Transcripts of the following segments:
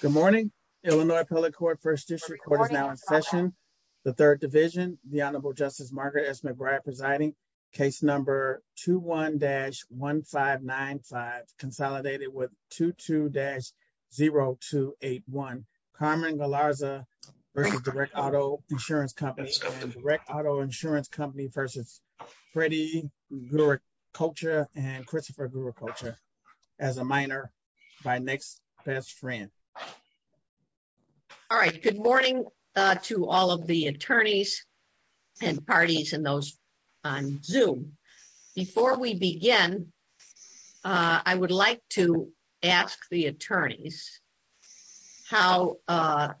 Good morning, Illinois Appellate Court First District Court is now in session. The third division, the Honorable Justice Margaret S McBride presiding case number 21 dash 1595 consolidated with 22 dash 0281 Carmen Galarza, or direct auto insurance companies, direct auto insurance company versus pretty good culture and Christopher group culture as a minor by next best friend. All right, good morning to all of the attorneys and parties and those on zoom. Before we begin, I would like to ask the attorneys. How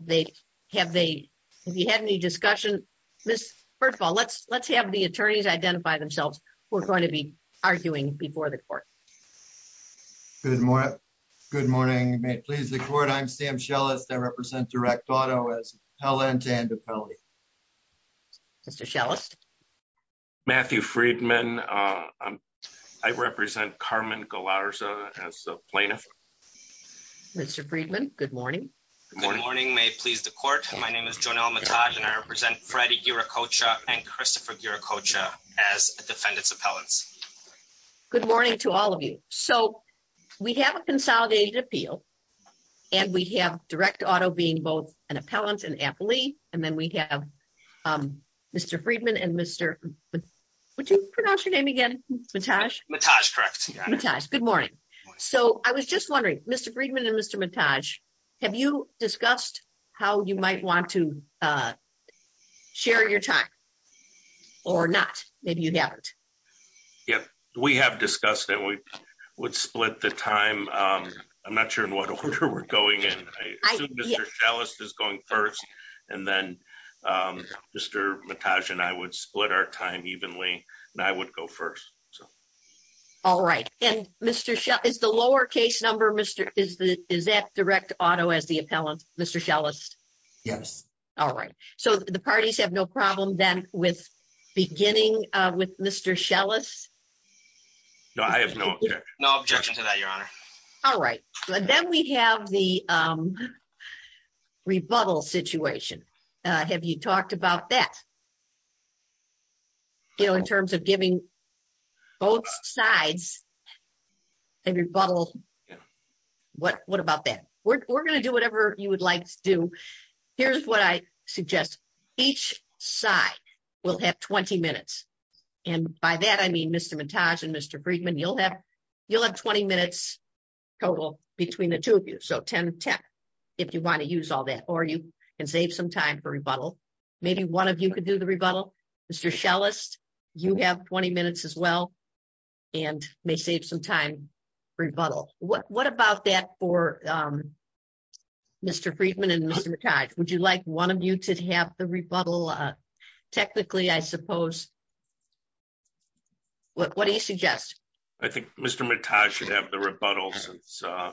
they have they have you had any discussion. This. First of all, let's let's have the attorneys identify themselves. We're going to be arguing before the court. Good morning. Good morning, please the court I'm Sam shell is that represent direct auto as Helen to end the penalty. Matthew Friedman. I represent Carmen Galarza as a plaintiff. Mr Friedman. Good morning. Good morning may please the court. My name is Jonah and I represent Freddie your coach and Christopher your coach as defendants appellants. Good morning to all of you. So, we have a consolidated appeal. And we have direct auto being both an appellant and happily, and then we have Mr Friedman and Mr. Would you pronounce your name again. Good morning. So I was just wondering, Mr Friedman and Mr montage. Have you discussed how you might want to share your time, or not, maybe you haven't. Yep, we have discussed that we would split the time. I'm not sure in what order we're going in. Alice is going first. And then, Mr. Natasha and I would split our time evenly, and I would go first. All right, and Mr. Is the lowercase number Mr. Is that direct auto as the appellant, Mr. Yes. All right. So the parties have no problem then with beginning with Mr shell us. No, I have no objection to that your honor. All right, then we have the rebuttal situation. Have you talked about that. You know, in terms of giving both sides. And rebuttal. What, what about that, we're going to do whatever you would like to do. Here's what I suggest, each side will have 20 minutes. And by that I mean Mr montage and Mr Friedman you'll have, you'll have 20 minutes total between the two of you so 1010. If you want to use all that or you can save some time for rebuttal. Maybe one of you could do the rebuttal. Mr shell list. You have 20 minutes as well. And may save some time rebuttal. What about that for Mr Friedman and Mr. Would you like one of you to have the rebuttal. Technically I suppose. What do you suggest. I think Mr montage should have the rebuttals. So,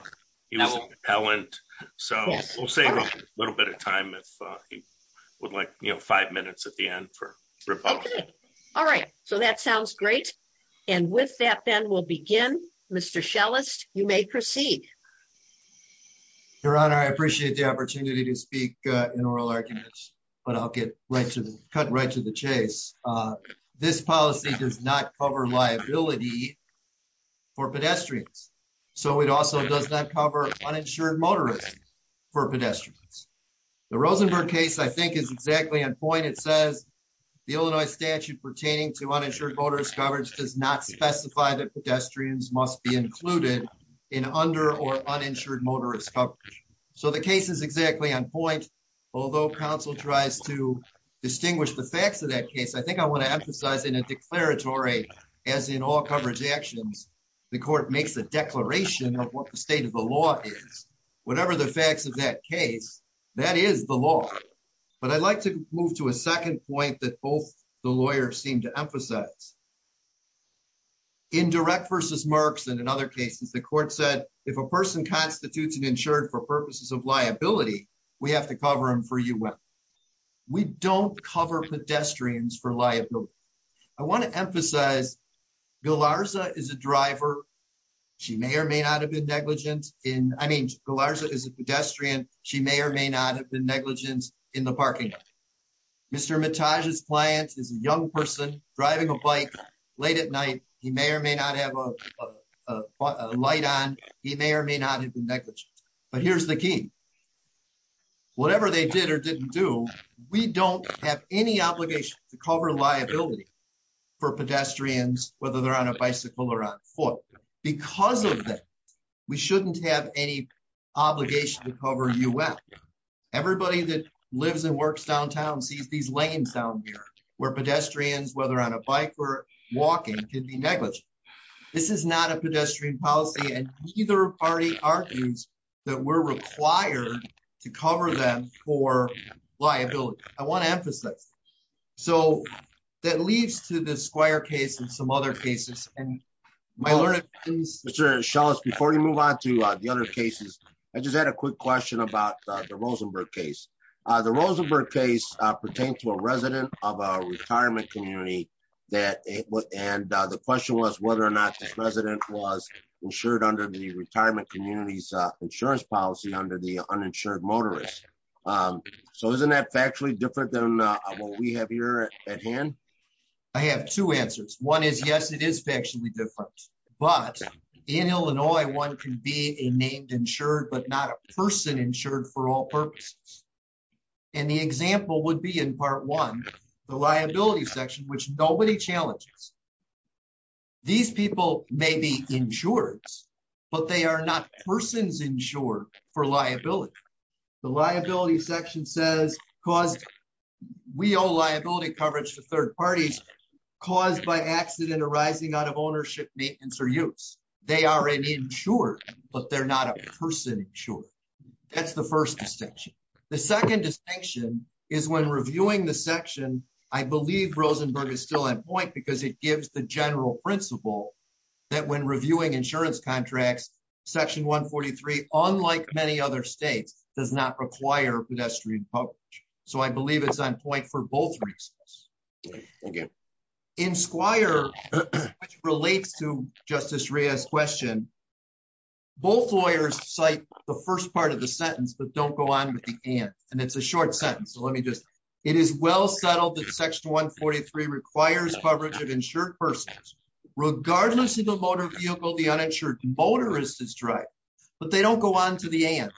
we'll save a little bit of time if he would like, you know, five minutes at the end for. All right, so that sounds great. And with that then we'll begin, Mr shell list, you may proceed. Your honor I appreciate the opportunity to speak in oral arguments, but I'll get right to the cut right to the chase. This policy does not cover liability for pedestrians. So it also does not cover uninsured motorists for pedestrians. The Rosenberg case, I think is exactly on point. It says. The Illinois statute pertaining to uninsured voters coverage does not specify that pedestrians must be included in under or uninsured motorist. So the case is exactly on point. Although counsel tries to distinguish the facts of that case, I think I want to emphasize in a declaratory as in all coverage actions. The court makes a declaration of what the state of the law is, whatever the facts of that case. That is the law, but I'd like to move to a 2nd point that both the lawyers seem to emphasize. Indirect versus marks and in other cases, the court said, if a person constitutes and insured for purposes of liability, we have to cover them for you. We don't cover pedestrians for liability. I want to emphasize is a driver. She may or may not have been negligence in. I mean, is a pedestrian. She may or may not have been negligence in the parking. Mr. Mattage his clients is a young person driving a bike late at night. He may or may not have a light on. He may or may not have been negligent. But here's the key, whatever they did or didn't do, we don't have any obligation to cover liability. For pedestrians, whether they're on a bicycle or on foot, because of that. We shouldn't have any obligation to cover you. Everybody that lives and works downtown sees these lanes down here where pedestrians, whether on a bike or walking can be negligent. This is not a pedestrian policy and either party argues that we're required to cover them for liability. I want to emphasize. So, that leads to the squire case and some other cases. My Lord. Mr. Schultz before you move on to the other cases. I just had a quick question about the Rosenberg case. The Rosenberg case pertains to a resident of our retirement community that it was and the question was whether or not this resident was insured under the retirement communities insurance policy under the uninsured motorist. So isn't that factually different than what we have here at hand. I have 2 answers. 1 is yes, it is factually different, but in Illinois, 1 can be a named insured, but not a person insured for all purposes. And the example would be in part 1, the liability section, which nobody challenges. These people may be insured, but they are not persons insured for liability. The liability section says, because we all liability coverage for 3rd parties caused by accident arising out of ownership, maintenance or use. They are an insured, but they're not a person. Sure. That's the 1st distinction. The 2nd distinction is when reviewing the section, I believe Rosenberg is still on point because it gives the general principle. That when reviewing insurance contracts, section 143, unlike many other states does not require pedestrian. So, I believe it's on point for both reasons. In Squire, which relates to Justice Rhea's question. Both lawyers cite the 1st part of the sentence, but don't go on with the and and it's a short sentence. So let me just. It is well settled that section 143 requires coverage of insured persons, regardless of the motor vehicle, the uninsured motorist is driving. But they don't go on to the end.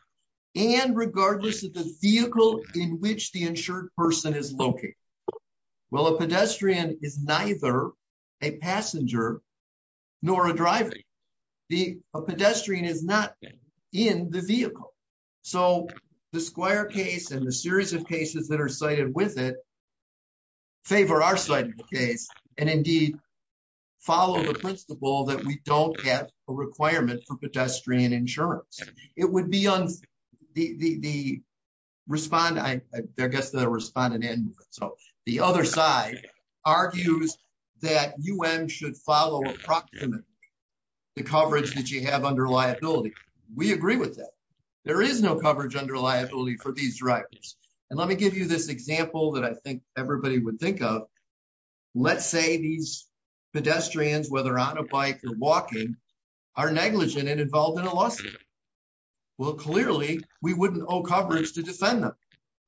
And regardless of the vehicle in which the insured person is located. Well, a pedestrian is neither. A passenger nor a driving. The pedestrian is not in the vehicle. So, the square case, and the series of cases that are cited with it. Favor our side of the case and indeed. Follow the principle that we don't get a requirement for pedestrian insurance. It would be on the. Respond, I guess the respondent and so the other side argues that you should follow approximately. The coverage that you have under liability, we agree with that. There is no coverage under liability for these directors and let me give you this example that I think everybody would think of. Let's say these pedestrians, whether on a bike or walking. Are negligent and involved in a lawsuit. Well, clearly we wouldn't owe coverage to defend them.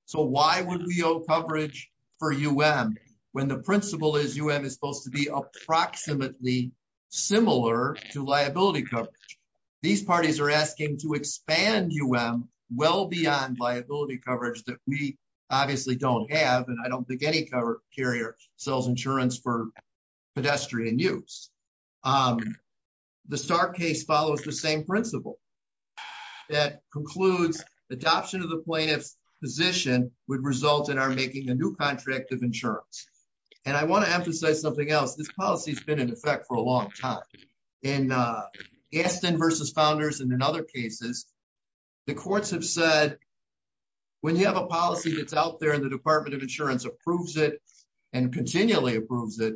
So, why would we owe coverage for when the principle is supposed to be approximately. Similar to liability coverage, these parties are asking to expand well beyond liability coverage that we. Obviously don't have, and I don't think any carrier sells insurance for. Pedestrian use. The star case follows the same principle. That concludes adoption of the plaintiff's position would result in our making a new contract of insurance. And I want to emphasize something else. This policy has been in effect for a long time. And Aston versus founders and in other cases. The courts have said, when you have a policy that's out there in the Department of insurance approves it and continually approves it.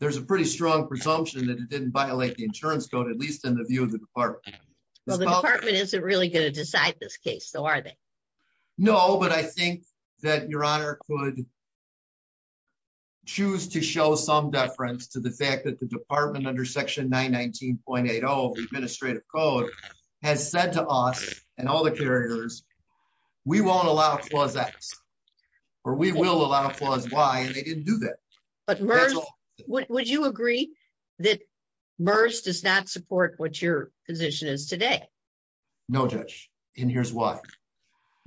There's a pretty strong presumption that it didn't violate the insurance code, at least in the view of the department. Well, the department isn't really going to decide this case. So are they? No, but I think that your honor could. Choose to show some deference to the fact that the department under section 919.80 administrative code has said to us and all the carriers. We won't allow that. Or we will allow flaws. Why? And they didn't do that. But would you agree that does not support what your position is today? No, judge. And here's why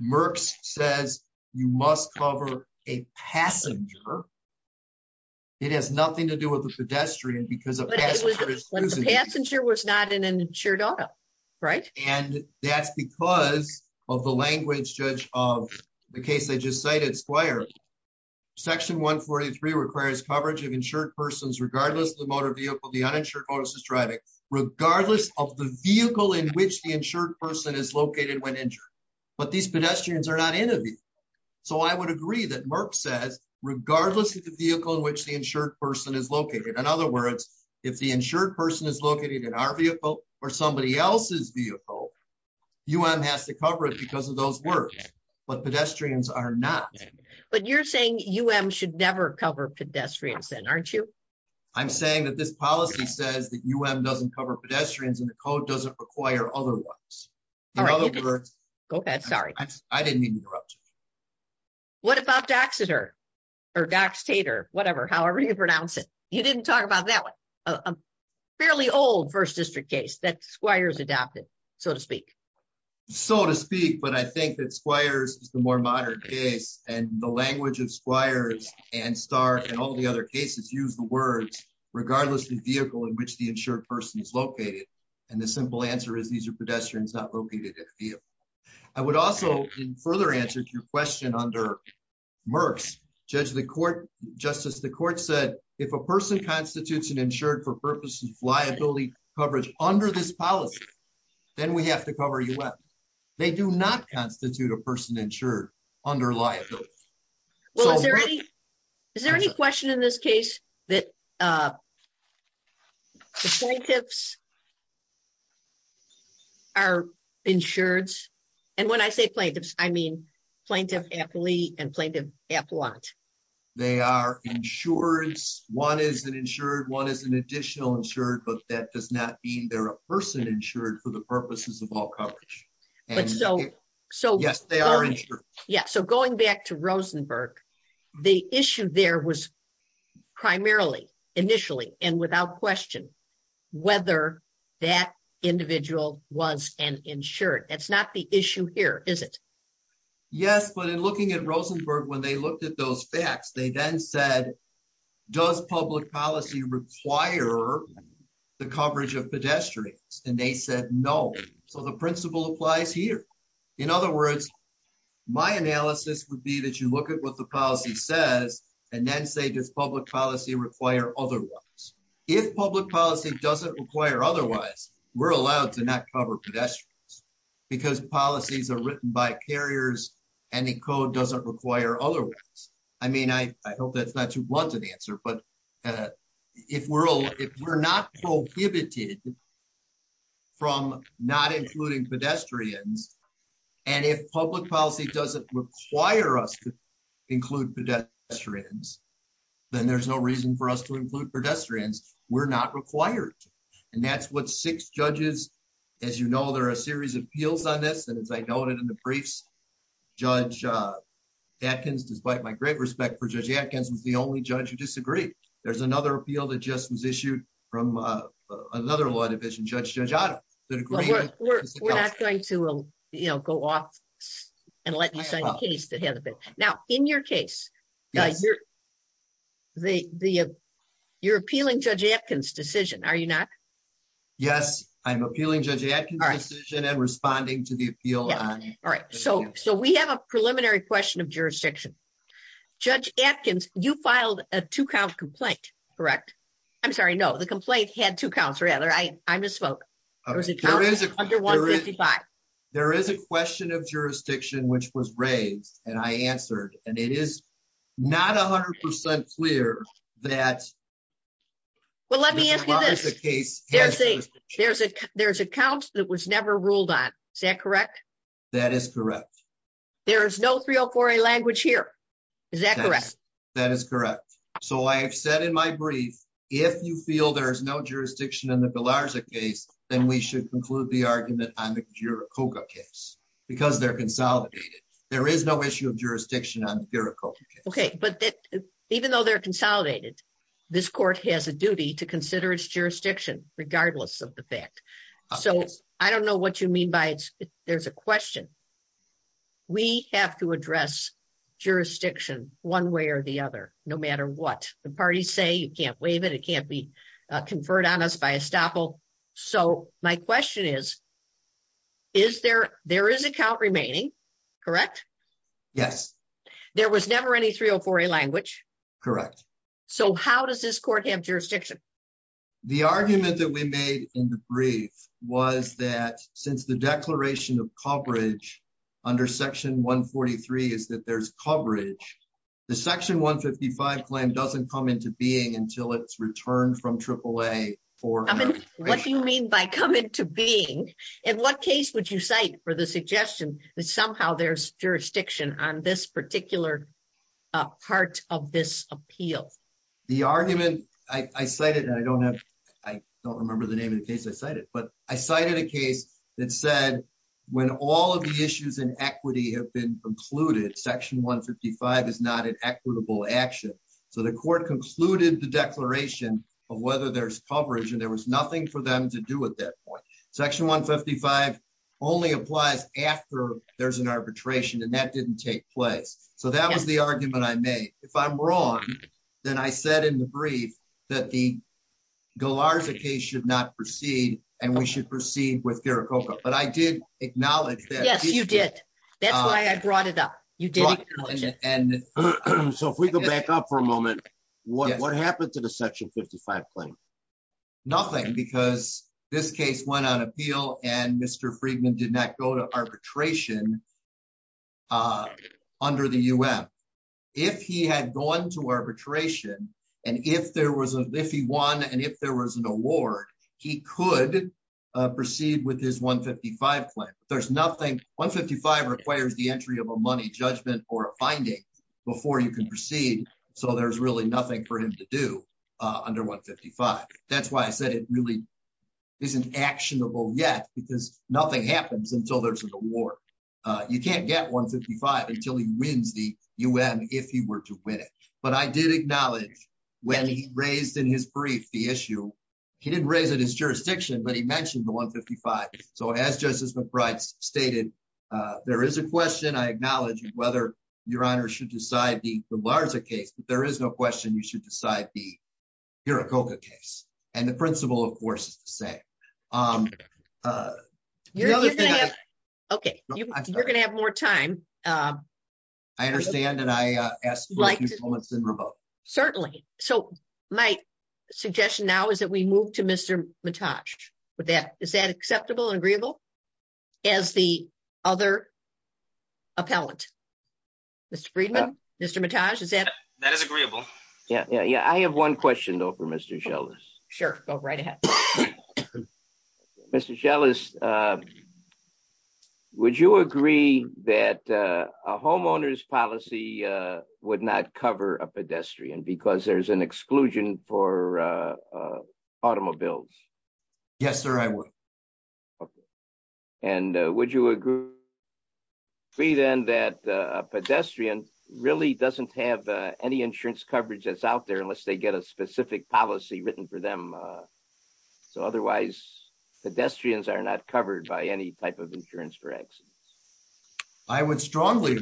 Merck says, you must cover a passenger. It has nothing to do with the pedestrian because the passenger was not in an insured auto. Right and that's because of the language judge of the case. I just cited squire. Section 143 requires coverage of insured persons, regardless of the motor vehicle, the uninsured motorist is driving regardless of the vehicle in which the insured person is located when injured. But these pedestrians are not interviewed. So, I would agree that Merck says, regardless of the vehicle in which the insured person is located. In other words, if the insured person is located in our vehicle, or somebody else's vehicle. Um, has to cover it because of those words, but pedestrians are not. But you're saying should never cover pedestrians and aren't you. I'm saying that this policy says that doesn't cover pedestrians and the code doesn't require other words. Go ahead. Sorry, I didn't mean to interrupt you. What about Daxter or Dax tater, whatever, however you pronounce it. You didn't talk about that one. Fairly old 1st district case that squires adopted, so to speak, so to speak, but I think that squires is the more modern case, and the language of squires and start and all the other cases use the words, regardless of the vehicle in which the insured person is located. And the simple answer is these are pedestrians not located. I would also further answer your question under Merck's judge, the court justice, the court said, if a person constitutes an insured for purposes of liability coverage under this policy. Then we have to cover you up. They do not constitute a person insured under liability. Well, is there any. Is there any question in this case that plaintiffs are insured. And when I say plaintiffs, I mean, plaintiff happily and plaintiff appellant. They are insurance, one is an insured one is an additional insured but that does not mean they're a person insured for the purposes of all coverage. So, so, yes, they are. Yeah, so going back to Rosenberg. The issue there was primarily initially, and without question, whether that individual was an insured that's not the issue here, is it. Yes, but in looking at Rosenberg, when they looked at those facts, they then said, does public policy require the coverage of pedestrians and they said no. So the principle applies here. In other words, my analysis would be that you look at what the policy says, and then say this public policy require otherwise. If public policy doesn't require otherwise, we're allowed to not cover pedestrians. Because policies are written by carriers and the code doesn't require otherwise. I mean, I hope that's not too blunt an answer, but if we're all if we're not prohibited. From not including pedestrians. And if public policy doesn't require us to. include pedestrians, then there's no reason for us to include pedestrians, we're not required. And that's what six judges. As you know, there are a series of appeals on this and as I noted in the briefs. Judge Atkins, despite my great respect for Judge Atkins was the only judge who disagreed. There's another appeal that just was issued from another law division judge, Judge Otto. We're not going to, you know, go off and let you sign a case that has a bit. Now, in your case, you're appealing Judge Atkins decision, are you not? Yes, I'm appealing Judge Atkins decision and responding to the appeal. All right, so, so we have a preliminary question of jurisdiction. Judge Atkins, you filed a two count complaint. Correct. I'm sorry no the complaint had two counts rather I misspoke. There is a question of jurisdiction which was raised, and I answered, and it is not 100% clear that. Well, let me ask you this. There's a count that was never ruled on. Is that correct? That is correct. There is no 304A language here. Is that correct? That is correct. So I have said in my brief, if you feel there is no jurisdiction in the Galarza case, then we should conclude the argument on the Juricoga case, because they're consolidated. There is no issue of jurisdiction on the Juricoga case. Okay, but even though they're consolidated. This court has a duty to consider its jurisdiction, regardless of the fact. So, I don't know what you mean by, there's a question. We have to address jurisdiction, one way or the other, no matter what the parties say you can't waive it it can't be conferred on us by estoppel. So, my question is, is there, there is a count remaining. Correct. Yes. There was never any 304A language. Correct. So how does this court have jurisdiction. The argument that we made in the brief was that since the declaration of coverage under section 143 is that there's coverage. The section 155 plan doesn't come into being until it's returned from AAA. What do you mean by come into being. In what case would you cite for the suggestion that somehow there's jurisdiction on this particular part of this appeal. The argument I cited I don't have. I don't remember the name of the case I cited but I cited a case that said, when all of the issues and equity have been concluded section 155 is not an equitable action. So the court concluded the declaration of whether there's coverage and there was nothing for them to do at that point, section 155 only applies after there's an arbitration and that didn't take place. So that was the argument I made, if I'm wrong. Then I said in the brief that the galarza case should not proceed, and we should proceed with their cocoa, but I did acknowledge that yes you did. That's why I brought it up. You did. And so if we go back up for a moment. What happened to the section 55 claim. Nothing because this case went on appeal and Mr Friedman did not go to arbitration. Under the US. If he had gone to arbitration. And if there was a if he won and if there was an award, he could proceed with his 155 plan, there's nothing 155 requires the entry of a money judgment or a finding before you can proceed. So there's really nothing for him to do under 155. That's why I said it really isn't actionable yet because nothing happens until there's an award. You can't get 155 until he wins the UN, if he were to win it, but I did acknowledge when he raised in his brief the issue. He didn't raise it as jurisdiction but he mentioned the 155. So as Justice McBride stated, there is a question I acknowledge whether your honor should decide the larger case, but there is no question you should decide the hero coca case, and the principle of course is to say, um, Okay, you're gonna have more time. I understand that I asked. Certainly, so my suggestion now is that we move to Mr. With that, is that acceptable and agreeable. As the other appellant. Mr Friedman, Mr Mattage is that that is agreeable. Yeah, yeah, yeah, I have one question though for Mr shell is sure, go right ahead. Mr jealous. Would you agree that a homeowner's policy would not cover a pedestrian because there's an exclusion for automobiles. Yes, sir, I will. And would you agree then that pedestrian really doesn't have any insurance coverage that's out there unless they get a specific policy written for them. So, otherwise, pedestrians are not covered by any type of insurance for accidents. I would strongly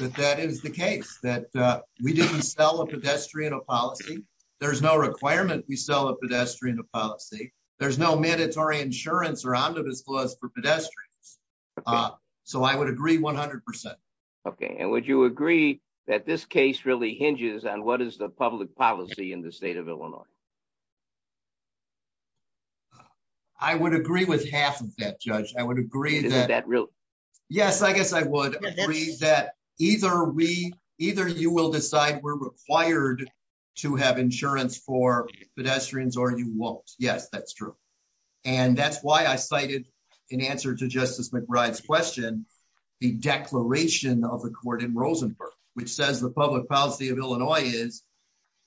that that is the case that we didn't sell a pedestrian a policy. There's no requirement we sell a pedestrian a policy. There's no mandatory insurance or on to disclose for pedestrians. So I would agree 100%. Okay. And would you agree that this case really hinges on what is the public policy in the state of Illinois. I would agree with half of that judge, I would agree that. Yes, I guess I would agree that either we either you will decide we're required to have insurance for pedestrians or you won't. Yes, that's true. And that's why I cited in answer to Justice McBride's question, the declaration of the court in Rosenberg, which says the public policy of Illinois is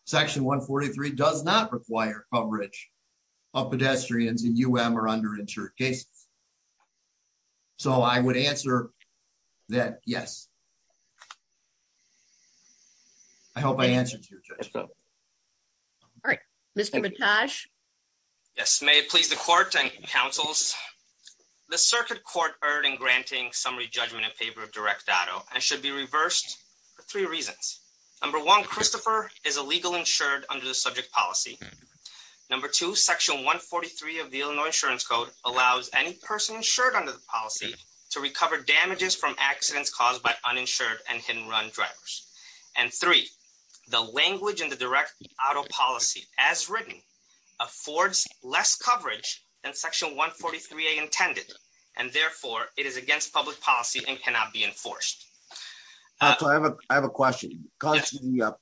section 143 does not require coverage of pedestrians and you were under insured cases. So I would answer that yes. I hope I answered. All right, Mr. Yes, may it please the court and councils. The circuit court earning granting summary judgment and paper of direct data and should be reversed for three reasons. Number one, Christopher is a legal insured under the subject policy. Number two, section 143 of the Illinois insurance code allows any person insured under the policy to recover damages from accidents caused by uninsured and hidden run drivers. And three, the language and the direct auto policy, as written, affords less coverage and section 143 a intended, and therefore, it is against public policy and cannot be enforced. I have a question. The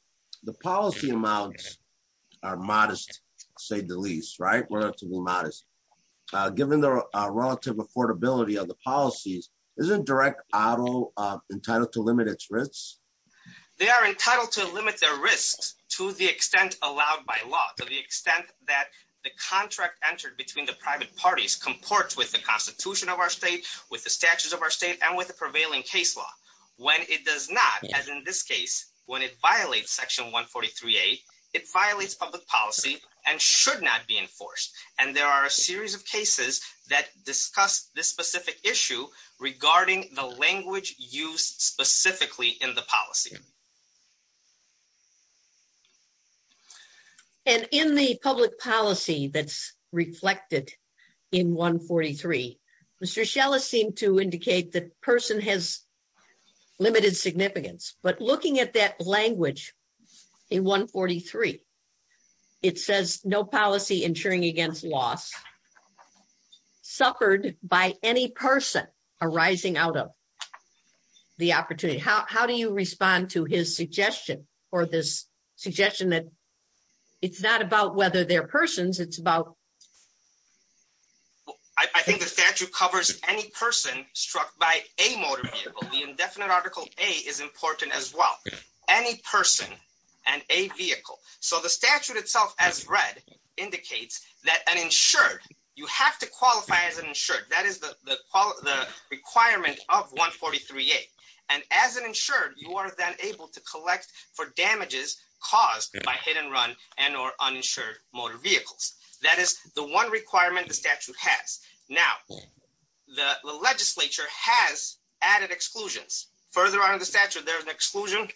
policy amounts are modest, say the least right relatively modest. Given the relative affordability of the policies isn't direct auto entitled to limit its risks. They are entitled to limit their risks to the extent allowed by law to the extent that the contract entered between the private parties comport with the Constitution of our state with the statutes of our state and with the prevailing case law. When it does not, as in this case, when it violates section 143 a, it violates public policy and should not be enforced. And there are a series of cases that discuss this specific issue regarding the language used specifically in the policy. And in the public policy that's reflected in 143, Mr. Or this suggestion that it's not about whether they're persons it's about. I think the statute covers, any person struck by a motor vehicle the indefinite article, a is important as well. Any person, and a vehicle. So the statute itself as read indicates that an insured, you have to qualify as an insured that is the requirement of 143 a, and as an insured, you are then able to collect for damages caused by hit and run and or uninsured motor vehicles. That is the one requirement the statute has. Now, the legislature has added exclusions further on in the statute, there's an exclusion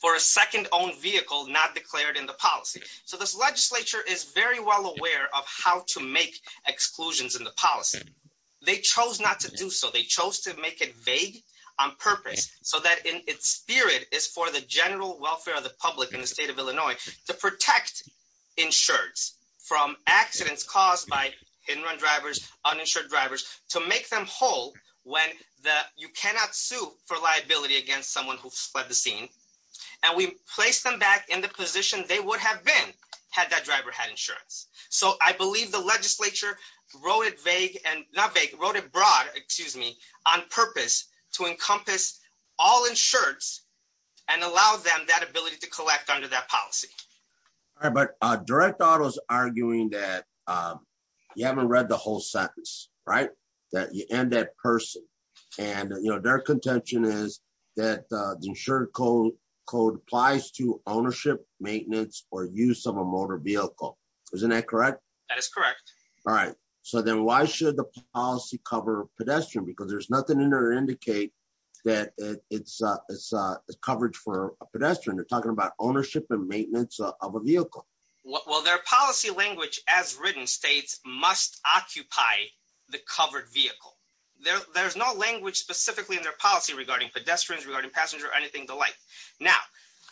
for a second own vehicle not declared in the policy. So this legislature is very well aware of how to make exclusions in the policy. They chose not to do so they chose to make it vague on purpose, so that in its spirit is for the general welfare of the public in the state of Illinois, to protect insureds from accidents caused by hit and run drivers uninsured drivers to make them whole. When the, you cannot sue for liability against someone who fled the scene, and we place them back in the position they would have been had that driver had insurance. So I believe the legislature wrote it vague and not vague wrote it broad, excuse me, on purpose to encompass all insureds and allow them that ability to collect under that policy. But direct auto is arguing that you haven't read the whole sentence, right, that you end that person. And, you know, their contention is that the insured code code applies to ownership maintenance or use of a motor vehicle. Isn't that correct. That is correct. All right. So then why should the policy cover pedestrian because there's nothing in there indicate that it's a coverage for a pedestrian you're talking about ownership and maintenance of a vehicle. Well, their policy language as written states must occupy the covered vehicle. There's no language specifically in their policy regarding pedestrians regarding passenger anything the like. Now,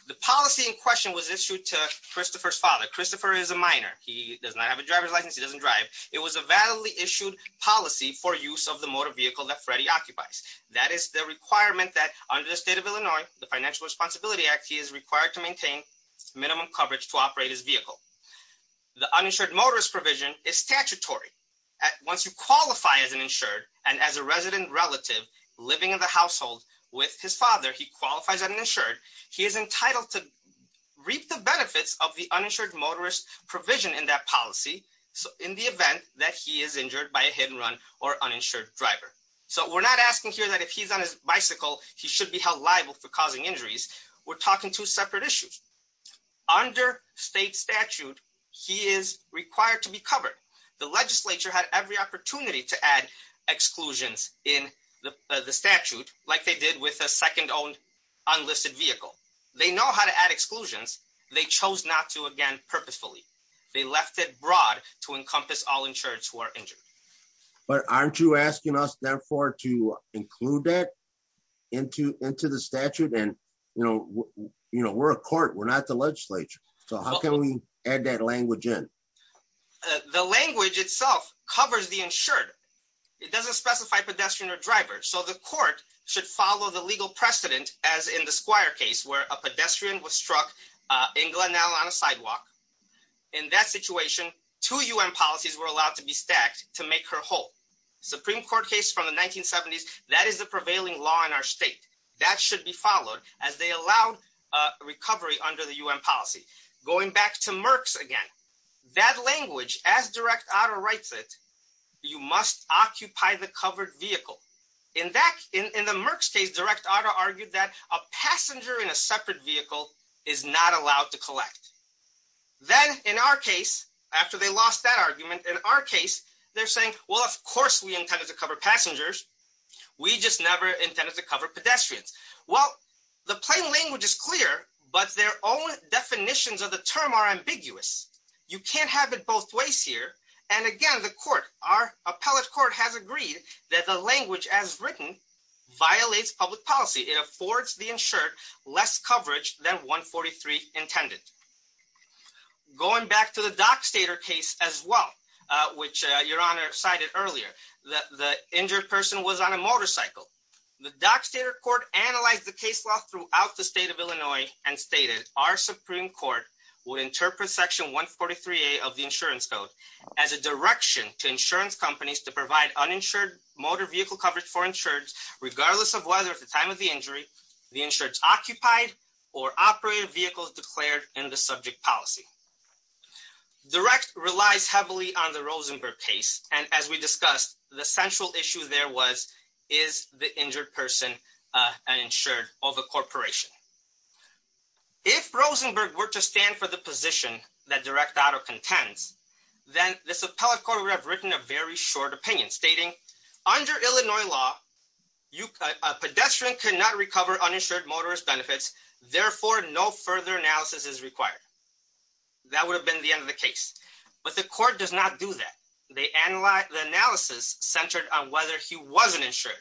the policy in question was issued to Christopher's father Christopher is a minor, he does not have a driver's license he doesn't drive. It was a validly issued policy for use of the motor vehicle that Freddie occupies. That is the requirement that under the state of Illinois, the Financial Responsibility Act he is required to maintain minimum coverage to operate his vehicle. The uninsured motorist provision is statutory at once you qualify as an insured, and as a resident relative living in the household with his father he qualifies uninsured, he is entitled to reap the benefits of the uninsured motorist provision in that policy. So, in the event that he is injured by a hit and run or uninsured driver. So we're not asking here that if he's on his bicycle, he should be held liable for causing injuries. We're talking to separate issues under state statute. He is required to be covered the legislature had every opportunity to add exclusions in the statute, like they did with a second owned unlisted vehicle. They know how to add exclusions, they chose not to again purposefully, they left it broad to encompass all insurance who are injured. But aren't you asking us therefore to include that into into the statute and, you know, you know we're a court we're not the legislature. So how can we add that language in the language itself covers the insured. It doesn't specify pedestrian or driver so the court should follow the legal precedent, as in the squire case where a pedestrian was struck in Glenelg on a sidewalk. In that situation, to you and policies were allowed to be stacked to make her whole Supreme Court case from the 1970s, that is the prevailing law in our state that should be followed as they allow recovery under the UN policy, going back to Merck's again. That language as direct auto rights it. You must occupy the covered vehicle. In fact, in the Merck's case direct auto argued that a passenger in a separate vehicle is not allowed to collect. Then, in our case, after they lost that argument in our case, they're saying, well of course we intended to cover passengers. We just never intended to cover pedestrians. Well, the plain language is clear, but their own definitions of the term are ambiguous. You can't have it both ways here. And again, the court, our appellate court has agreed that the language as written violates public policy it affords the insured less coverage than 143 intended. Going back to the dock stater case as well, which your honor cited earlier that the injured person was on a motorcycle. The dock stater court analyzed the case law throughout the state of Illinois and stated our Supreme Court will interpret section 143A of the insurance code as a direction to insurance companies to provide uninsured motor vehicle coverage for insurance, regardless of whether at the time of the injury, the insurance occupied or operated vehicles declared in the subject policy. Direct relies heavily on the Rosenberg case. And as we discussed, the central issue there was, is the injured person uninsured of a corporation. If Rosenberg were to stand for the position that direct auto contends, then this appellate court would have written a very short opinion stating under Illinois law, a pedestrian cannot recover uninsured motorist benefits. Therefore, no further analysis is required. That would have been the end of the case, but the court does not do that. They analyze the analysis centered on whether he wasn't insured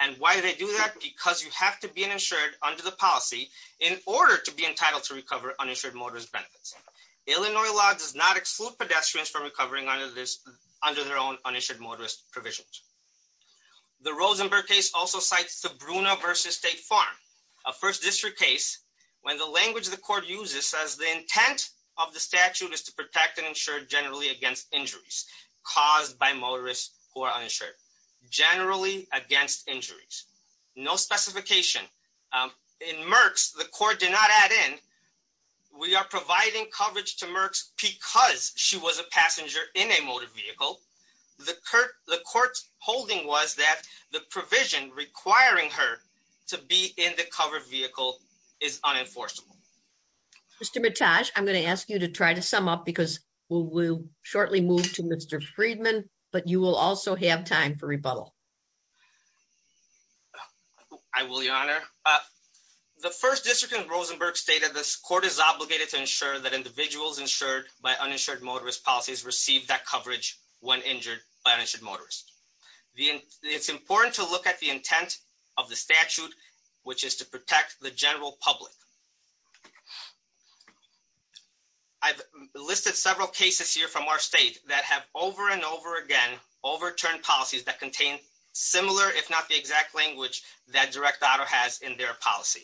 and why they do that because you have to be an insured under the policy in order to be entitled to recover uninsured motorist benefits. Illinois law does not exclude pedestrians from recovering under this under their own uninsured motorist provisions. The Rosenberg case also cites the Bruna versus State Farm, a first district case, when the language the court uses says the intent of the statute is to protect and insure generally against injuries caused by motorists who are uninsured, generally against injuries. No specification. In Merckx, the court did not add in. We are providing coverage to Merckx because she was a passenger in a motor vehicle. The court's holding was that the provision requiring her to be in the covered vehicle is unenforceable. Mr. Mitaj, I'm going to ask you to try to sum up because we'll shortly move to Mr. Friedman, but you will also have time for rebuttal. I will, Your Honor. The first district in Rosenberg stated this court is obligated to ensure that individuals insured by uninsured motorist policies receive that coverage when injured by an insured motorist. It's important to look at the intent of the statute, which is to protect the general public. I've listed several cases here from our state that have over and over again overturned policies that contain similar, if not the exact language that direct auto has in their policy.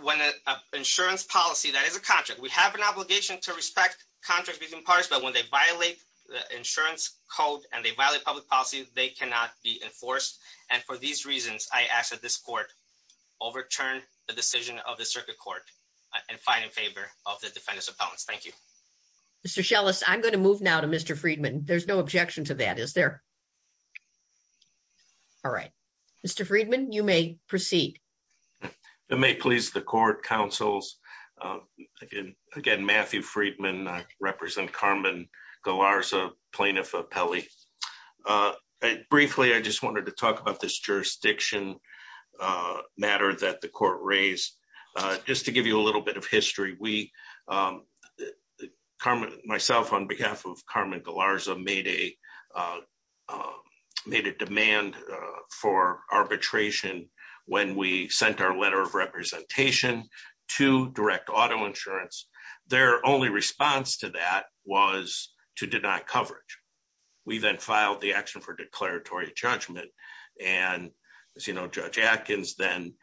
When an insurance policy, that is a contract. We have an obligation to respect contracts between parties, but when they violate the insurance code and they violate public policy, they cannot be enforced. And for these reasons, I ask that this court overturn the decision of the circuit court and fight in favor of the defendant's appellants. Thank you. Mr. Scheles, I'm going to move now to Mr. Friedman. There's no objection to that, is there? All right. Mr. Friedman, you may proceed. It may please the court, counsels. Again, Matthew Friedman, I represent Carmen Galarza, plaintiff appellee. Briefly, I just wanted to talk about this jurisdiction matter that the court raised. Just to give you a little bit of history, we, myself on behalf of Carmen Galarza, made a demand for arbitration when we sent our letter of representation to direct auto insurance. Their only response to that was to deny coverage. We then filed the action for declaratory judgment, and as you know, Judge Atkins then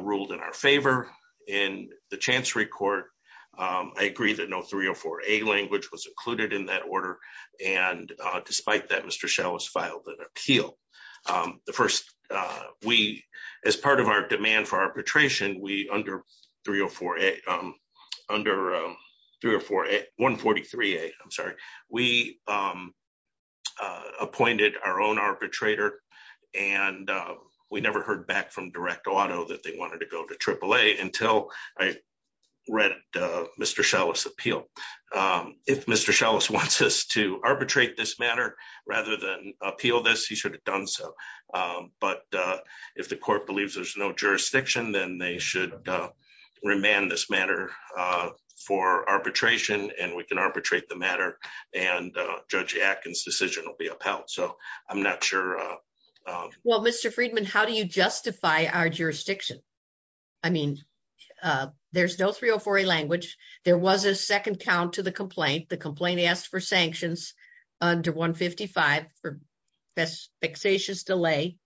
ruled in our favor. In the Chancery Court, I agree that no 304A language was included in that order, and despite that, Mr. Scheles filed an appeal. As part of our demand for arbitration, under 304A, under 143A, I'm sorry, we appointed our own arbitrator, and we never heard back from direct auto that they wanted to go to AAA until I read Mr. Scheles' appeal. If Mr. Scheles wants us to arbitrate this matter, rather than appeal this, he should have done so. But if the court believes there's no jurisdiction, then they should remand this matter for arbitration, and we can arbitrate the matter, and Judge Atkins' decision will be upheld. So, I'm not sure. Well, Mr. Friedman, how do you justify our jurisdiction? I mean, there's no 304A language. There was a second count to the complaint. The complaint asked for sanctions under 155 for vexatious delay.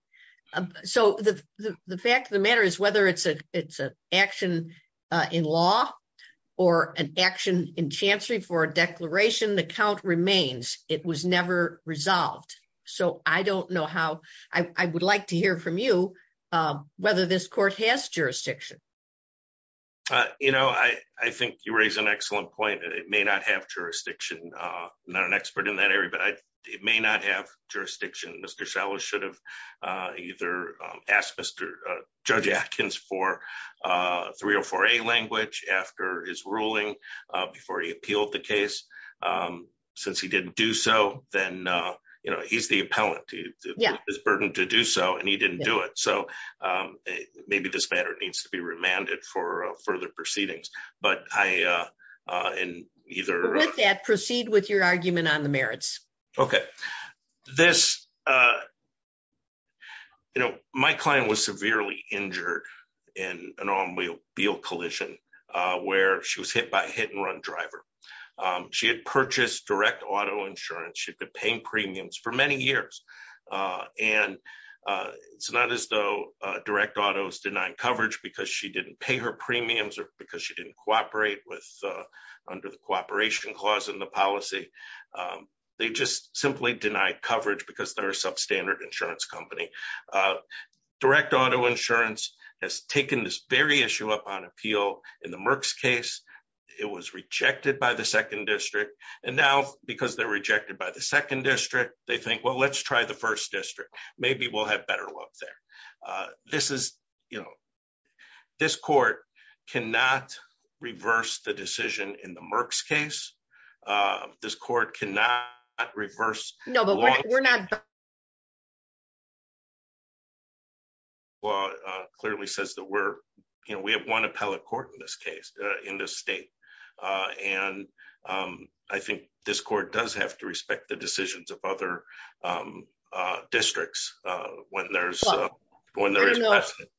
So, the fact of the matter is whether it's an action in law or an action in Chancery for a declaration, the count remains. It was never resolved. So, I don't know how – I would like to hear from you whether this court has jurisdiction. You know, I think you raise an excellent point. It may not have jurisdiction. I'm not an expert in that area, but it may not have jurisdiction. Mr. Shallows should have either asked Judge Atkins for 304A language after his ruling, before he appealed the case. Since he didn't do so, then, you know, he's the appellant. It's his burden to do so, and he didn't do it. So, maybe this matter needs to be remanded for further proceedings. But I – With that, proceed with your argument on the merits. Okay. This – you know, my client was severely injured in an automobile collision where she was hit by a hit-and-run driver. She had purchased direct auto insurance. She had been paying premiums for many years. And it's not as though direct auto is denying coverage because she didn't pay her premiums or because she didn't cooperate with – under the cooperation clause in the policy. They just simply denied coverage because they're a substandard insurance company. Direct auto insurance has taken this very issue up on appeal. In the Merck's case, it was rejected by the 2nd District. And now, because they're rejected by the 2nd District, they think, well, let's try the 1st District. Maybe we'll have better luck there. This is – you know, this court cannot reverse the decision in the Merck's case. This court cannot reverse – No, but we're not – Well, it clearly says that we're – you know, we have one appellate court in this case, in this state. And I think this court does have to respect the decisions of other districts when there's – when there is precedent.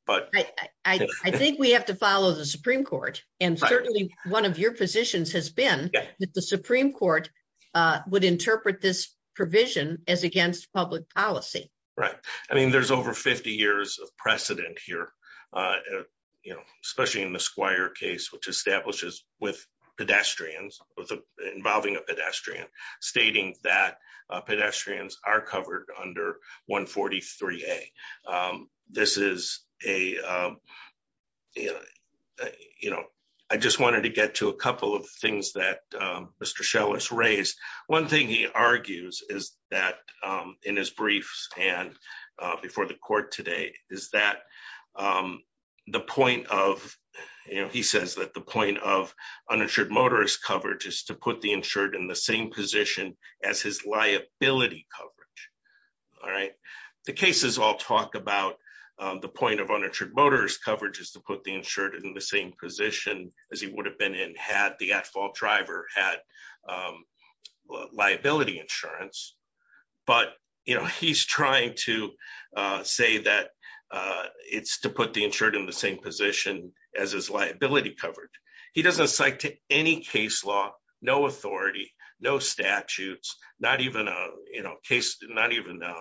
I think we have to follow the Supreme Court. And certainly, one of your positions has been that the Supreme Court would interpret this provision as against public policy. Right. I mean, there's over 50 years of precedent here, you know, especially in the Squire case, which establishes with pedestrians, involving a pedestrian, stating that pedestrians are covered under 143A. This is a – you know, I just wanted to get to a couple of things that Mr. Schell has raised. One thing he argues is that in his briefs and before the court today is that the point of – you know, he says that the point of uninsured motorist coverage is to put the insured in the same position as his liability coverage. All right. The cases all talk about the point of uninsured motorist coverage is to put the insured in the same position as he would have been in had the at-fault driver had liability insurance. But, you know, he's trying to say that it's to put the insured in the same position as his liability coverage. He doesn't cite any case law, no authority, no statutes, not even a case – not even a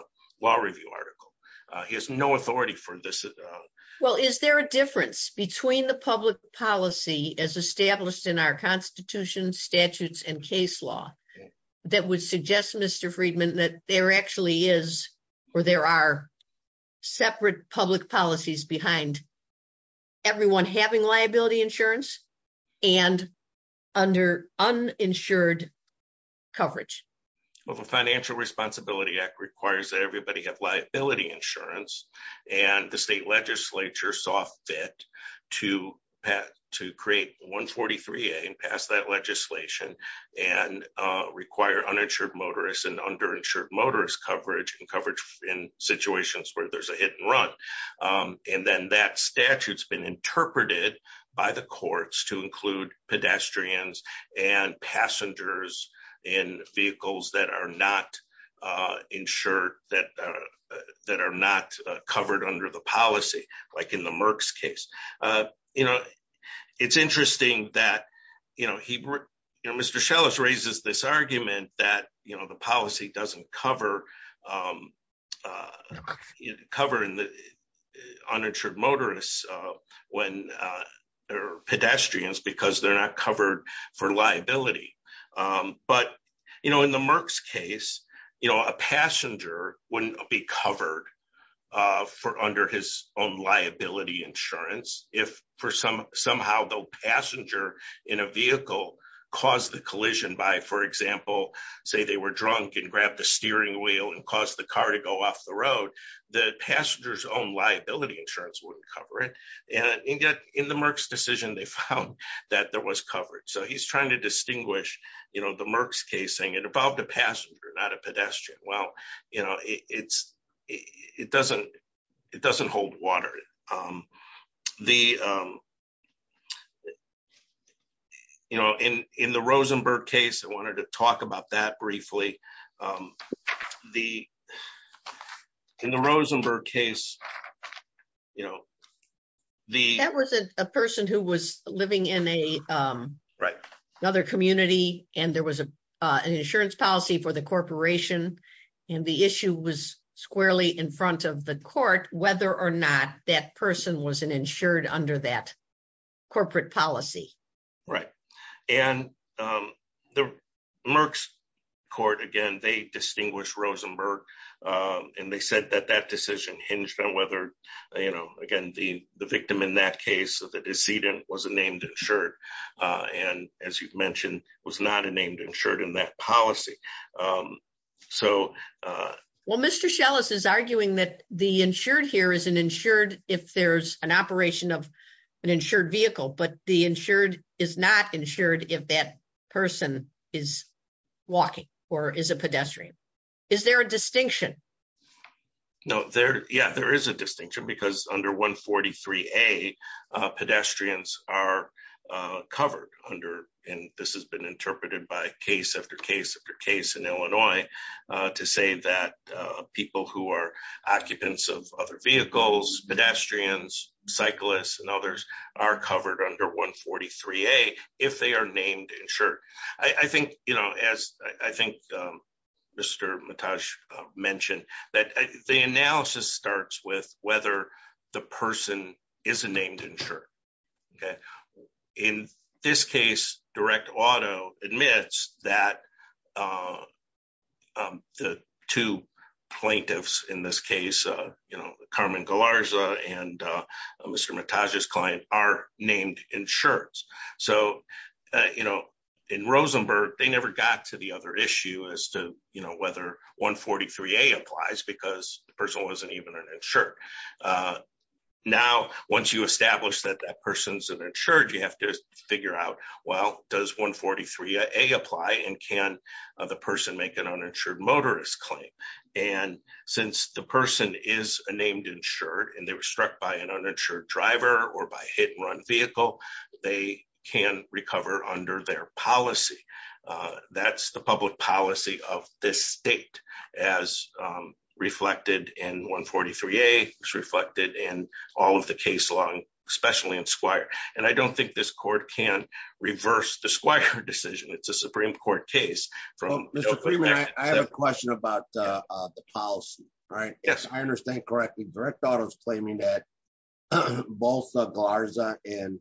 law review article. He has no authority for this at all. Well, is there a difference between the public policy as established in our Constitution, statutes, and case law that would suggest, Mr. Friedman, that there actually is or there are separate public policies behind everyone having liability insurance and under uninsured coverage? Well, the Financial Responsibility Act requires that everybody have liability insurance, and the state legislature saw fit to create 143A and pass that legislation and require uninsured motorist and underinsured motorist coverage and coverage in situations where there's a hit and run. And then that statute's been interpreted by the courts to include pedestrians and passengers in vehicles that are not insured, that are not covered under the policy, like in the Merck's case. You know, it's interesting that, you know, he – you know, Mr. Scheles raises this argument that, you know, the policy doesn't cover uninsured motorists when – or pedestrians because they're not covered for liability. But, you know, in the Merck's case, you know, a passenger wouldn't be covered for – under his own liability insurance if for some – somehow the passenger in a vehicle caused the collision by, for example, say they were drunk and grabbed the steering wheel and caused the car to go off the road, the passenger's own liability insurance wouldn't cover it. And yet, in the Merck's decision, they found that there was coverage. So he's trying to distinguish, you know, the Merck's case saying it involved a passenger, not a pedestrian. Well, you know, it's – it doesn't hold water. The – you know, in the Rosenberg case, I wanted to talk about that briefly. The – in the Rosenberg case, you know, the – squarely in front of the court whether or not that person was an insured under that corporate policy. Right. And the Merck's court, again, they distinguished Rosenberg, and they said that that decision hinged on whether, you know, again, the victim in that case, the decedent, was a named insured and, as you've mentioned, was not a named insured in that policy. So – Well, Mr. Shellis is arguing that the insured here is an insured if there's an operation of an insured vehicle, but the insured is not insured if that person is walking or is a pedestrian. Is there a distinction? No, there – yeah, there is a distinction because under 143A, pedestrians are covered under – and this has been interpreted by case after case after case in Illinois to say that people who are occupants of other vehicles, pedestrians, cyclists, and others, are covered under 143A if they are named insured. I think, you know, as I think Mr. Mataj mentioned, that the analysis starts with whether the person is a named insured. In this case, direct auto admits that the two plaintiffs in this case, you know, Carmen Galarza and Mr. Mataj's client, are named insured. So, you know, in Rosenberg, they never got to the other issue as to, you know, whether 143A applies because the person wasn't even an insured. Now, once you establish that that person's an insured, you have to figure out, well, does 143A apply and can the person make an uninsured motorist claim? And since the person is a named insured and they were struck by an uninsured driver or by hit-and-run vehicle, they can recover under their policy. That's the public policy of this state as reflected in 143A, as reflected in all of the case law, especially in Squire. And I don't think this court can reverse the Squire decision. It's a Supreme Court case. Mr. Freeman, I have a question about the policy, right? Yes, I understand correctly. Direct auto is claiming that both Galarza and,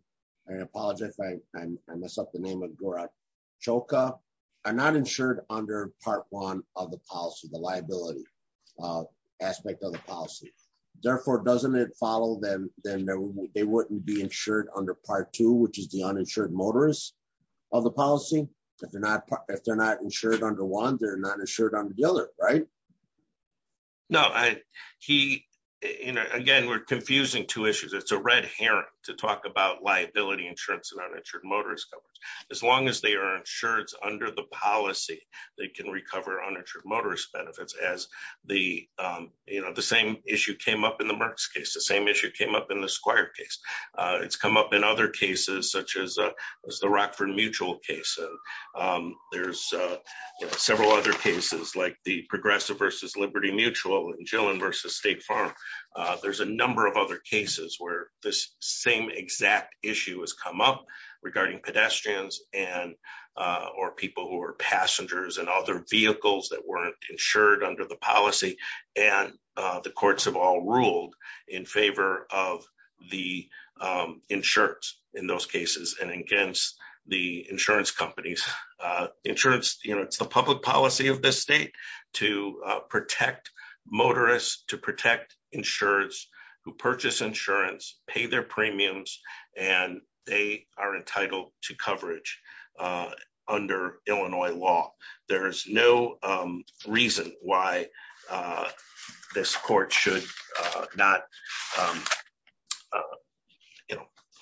I apologize if I mess up the name of Gorachoka, are not insured under part one of the policy, the liability aspect of the policy. Therefore, doesn't it follow that they wouldn't be insured under part two, which is the uninsured motorist of the policy? If they're not insured under one, they're not insured under the other, right? No. Again, we're confusing two issues. It's a red herring to talk about liability insurance and uninsured motorist coverage. As long as they are insured under the policy, they can recover uninsured motorist benefits, as the same issue came up in the Merckx case, the same issue came up in the Squire case. It's come up in other cases, such as the Rockford Mutual case. There's several other cases like the Progressive v. Liberty Mutual and Gillen v. State Farm. There's a number of other cases where this same exact issue has come up regarding pedestrians or people who are passengers and other vehicles that weren't insured under the policy. The courts have all ruled in favor of the insurers in those cases and against the insurance companies. It's the public policy of this state to protect motorists, to protect insurers who purchase insurance, pay their premiums, and they are entitled to coverage under Illinois law. There's no reason why this court should not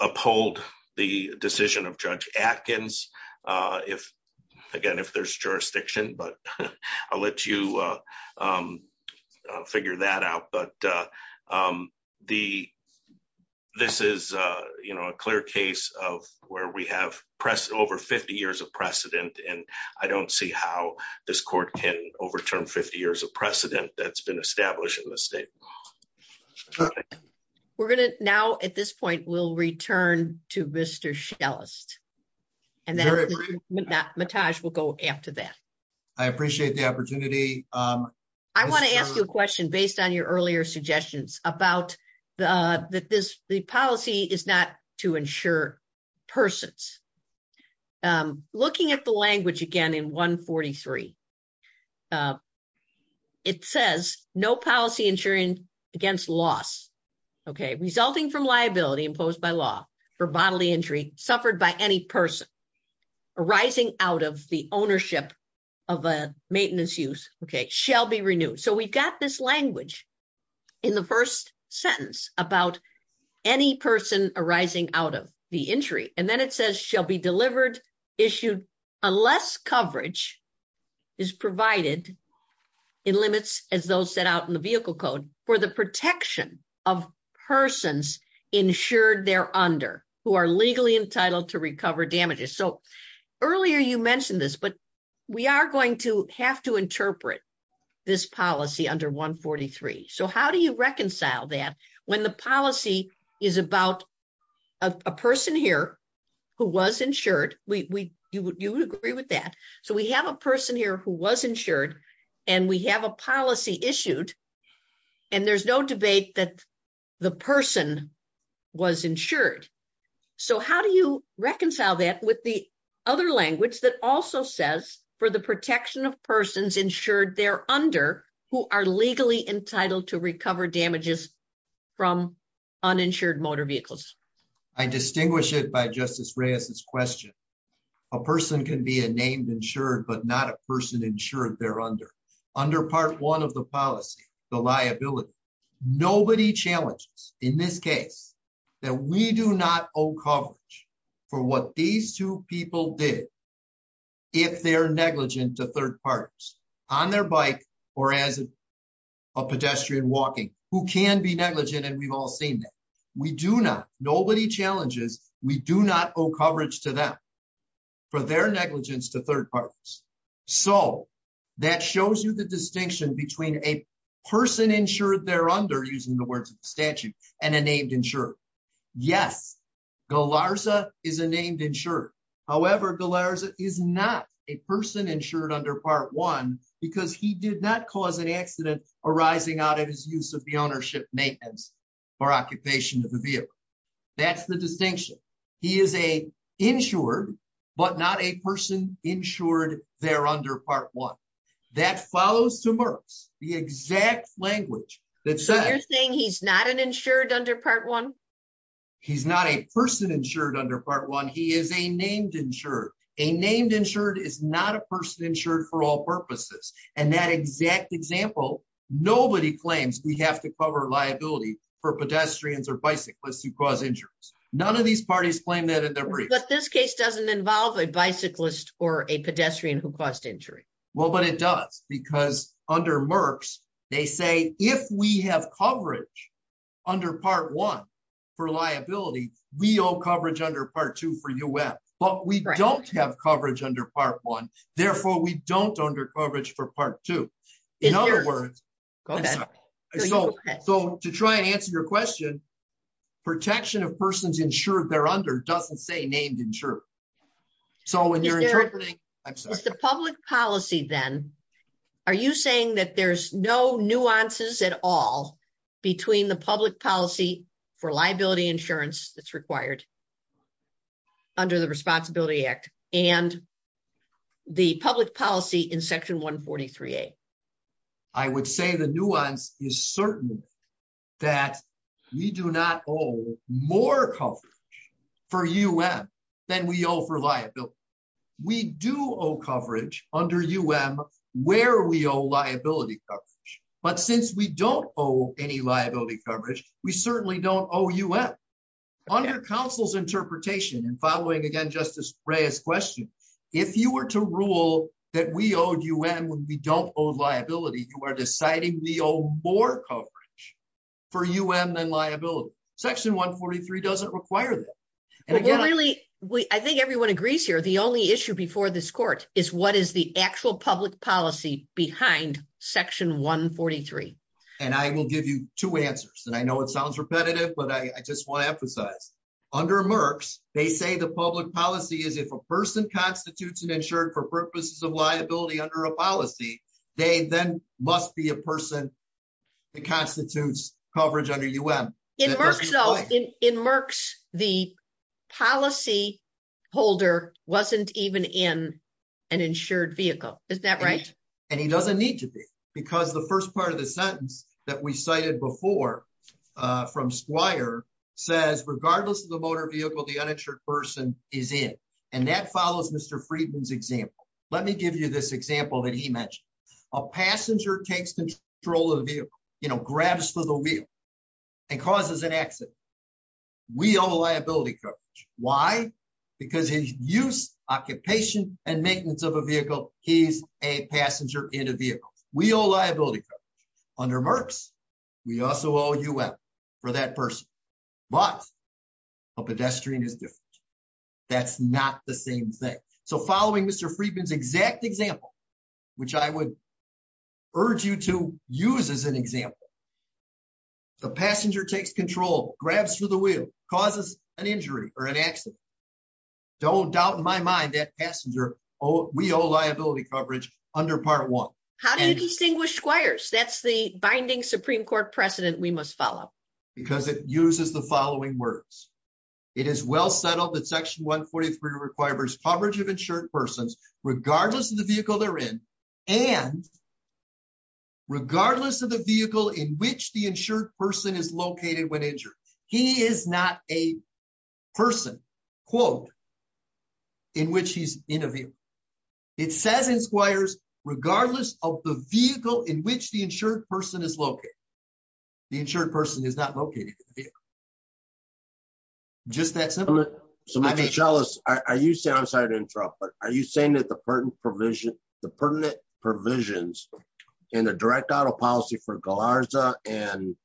uphold the decision of Judge Atkins. Again, if there's jurisdiction, I'll let you figure that out. This is a clear case of where we have over 50 years of precedent, and I don't see how this court can overturn 50 years of precedent that's been established in this state. We're going to now, at this point, we'll return to Mr. Schellest, and then Mitaj will go after that. I appreciate the opportunity. I want to ask you a question based on your earlier suggestions about the policy is not to insure persons. Looking at the language again in 143, it says, no policy insuring against loss resulting from liability imposed by law for bodily injury suffered by any person arising out of the ownership of a maintenance use shall be renewed. We've got this language in the first sentence about any person arising out of the injury, and then it says shall be delivered, issued, unless coverage is provided in limits as those set out in the vehicle code for the protection of persons insured there under, who are legally entitled to recover damages. Earlier you mentioned this, but we are going to have to interpret this policy under 143. How do you reconcile that when the policy is about a person here who was insured? You would agree with that. We have a person here who was insured, and we have a policy issued, and there's no debate that the person was insured. How do you reconcile that with the other language that also says for the protection of persons insured there under, who are legally entitled to recover damages from uninsured motor vehicles? I distinguish it by Justice Reyes's question. A person can be a named insured, but not a person insured there under. Under part one of the policy, the liability. Nobody challenges in this case that we do not owe coverage for what these two people did if they're negligent to third parties on their bike or as a pedestrian walking, who can be negligent, and we've all seen that. We do not. Nobody challenges. We do not owe coverage to them for their negligence to third parties. So, that shows you the distinction between a person insured there under, using the words of the statute, and a named insured. Yes, Galarza is a named insured. However, Galarza is not a person insured under part one because he did not cause an accident arising out of his use of the ownership maintenance for occupation of the vehicle. That's the distinction. He is an insured, but not a person insured there under part one. That follows to Merck's, the exact language. So, you're saying he's not an insured under part one? He's not a person insured under part one. He is a named insured. A named insured is not a person insured for all purposes. And that exact example, nobody claims we have to cover liability for pedestrians or bicyclists who cause injuries. None of these parties claim that in their briefs. But this case doesn't involve a bicyclist or a pedestrian who caused injury. Well, but it does, because under Merck's, they say if we have coverage under part one for liability, we owe coverage under part two for UF. But we don't have coverage under part one, therefore we don't under coverage for part two. In other words, so to try and answer your question, protection of persons insured there under doesn't say named insured. So when you're interpreting, I'm sorry. It's the public policy then. Are you saying that there's no nuances at all between the public policy for liability insurance that's required under the Responsibility Act and the public policy in section 143A? I would say the nuance is certainly that we do not owe more coverage for UF than we owe for liability. We do owe coverage under UF where we owe liability coverage. But since we don't owe any liability coverage, we certainly don't owe UF. On your counsel's interpretation and following again Justice Reyes' question, if you were to rule that we owed UF when we don't owe liability, you are deciding we owe more coverage for UF than liability. Section 143 doesn't require that. I think everyone agrees here. The only issue before this court is what is the actual public policy behind section 143. And I will give you two answers. And I know it sounds repetitive, but I just want to emphasize. Under Merckx, they say the public policy is if a person constitutes an insured for purposes of liability under a policy, they then must be a person that constitutes coverage under UM. In Merckx, the policy holder wasn't even in an insured vehicle. Is that right? And he doesn't need to be. Because the first part of the sentence that we cited before from Squire says regardless of the motor vehicle, the uninsured person is in. And that follows Mr. Friedman's example. Let me give you this example that he mentioned. A passenger takes control of the vehicle, you know, grabs to the wheel and causes an accident. We owe liability coverage. Why? Because his use, occupation, and maintenance of a vehicle, he's a passenger in a vehicle. We owe liability coverage. Under Merckx, we also owe UM for that person. But a pedestrian is different. That's not the same thing. So following Mr. Friedman's exact example, which I would urge you to use as an example. The passenger takes control, grabs to the wheel, causes an injury or an accident. Don't doubt in my mind that passenger, we owe liability coverage under Part 1. How do you distinguish Squires? That's the binding Supreme Court precedent we must follow. Because it uses the following words. It is well settled that Section 143 requires coverage of insured persons regardless of the vehicle they're in. And regardless of the vehicle in which the insured person is located when injured. He is not a person, quote, in which he's in a vehicle. It says in Squires, regardless of the vehicle in which the insured person is located. The insured person is not located in the vehicle. Just that simple. So, Mr. Chalas, are you saying, I'm sorry to interrupt, but are you saying that the pertinent provisions, the pertinent provisions in the direct auto policy for Galarza and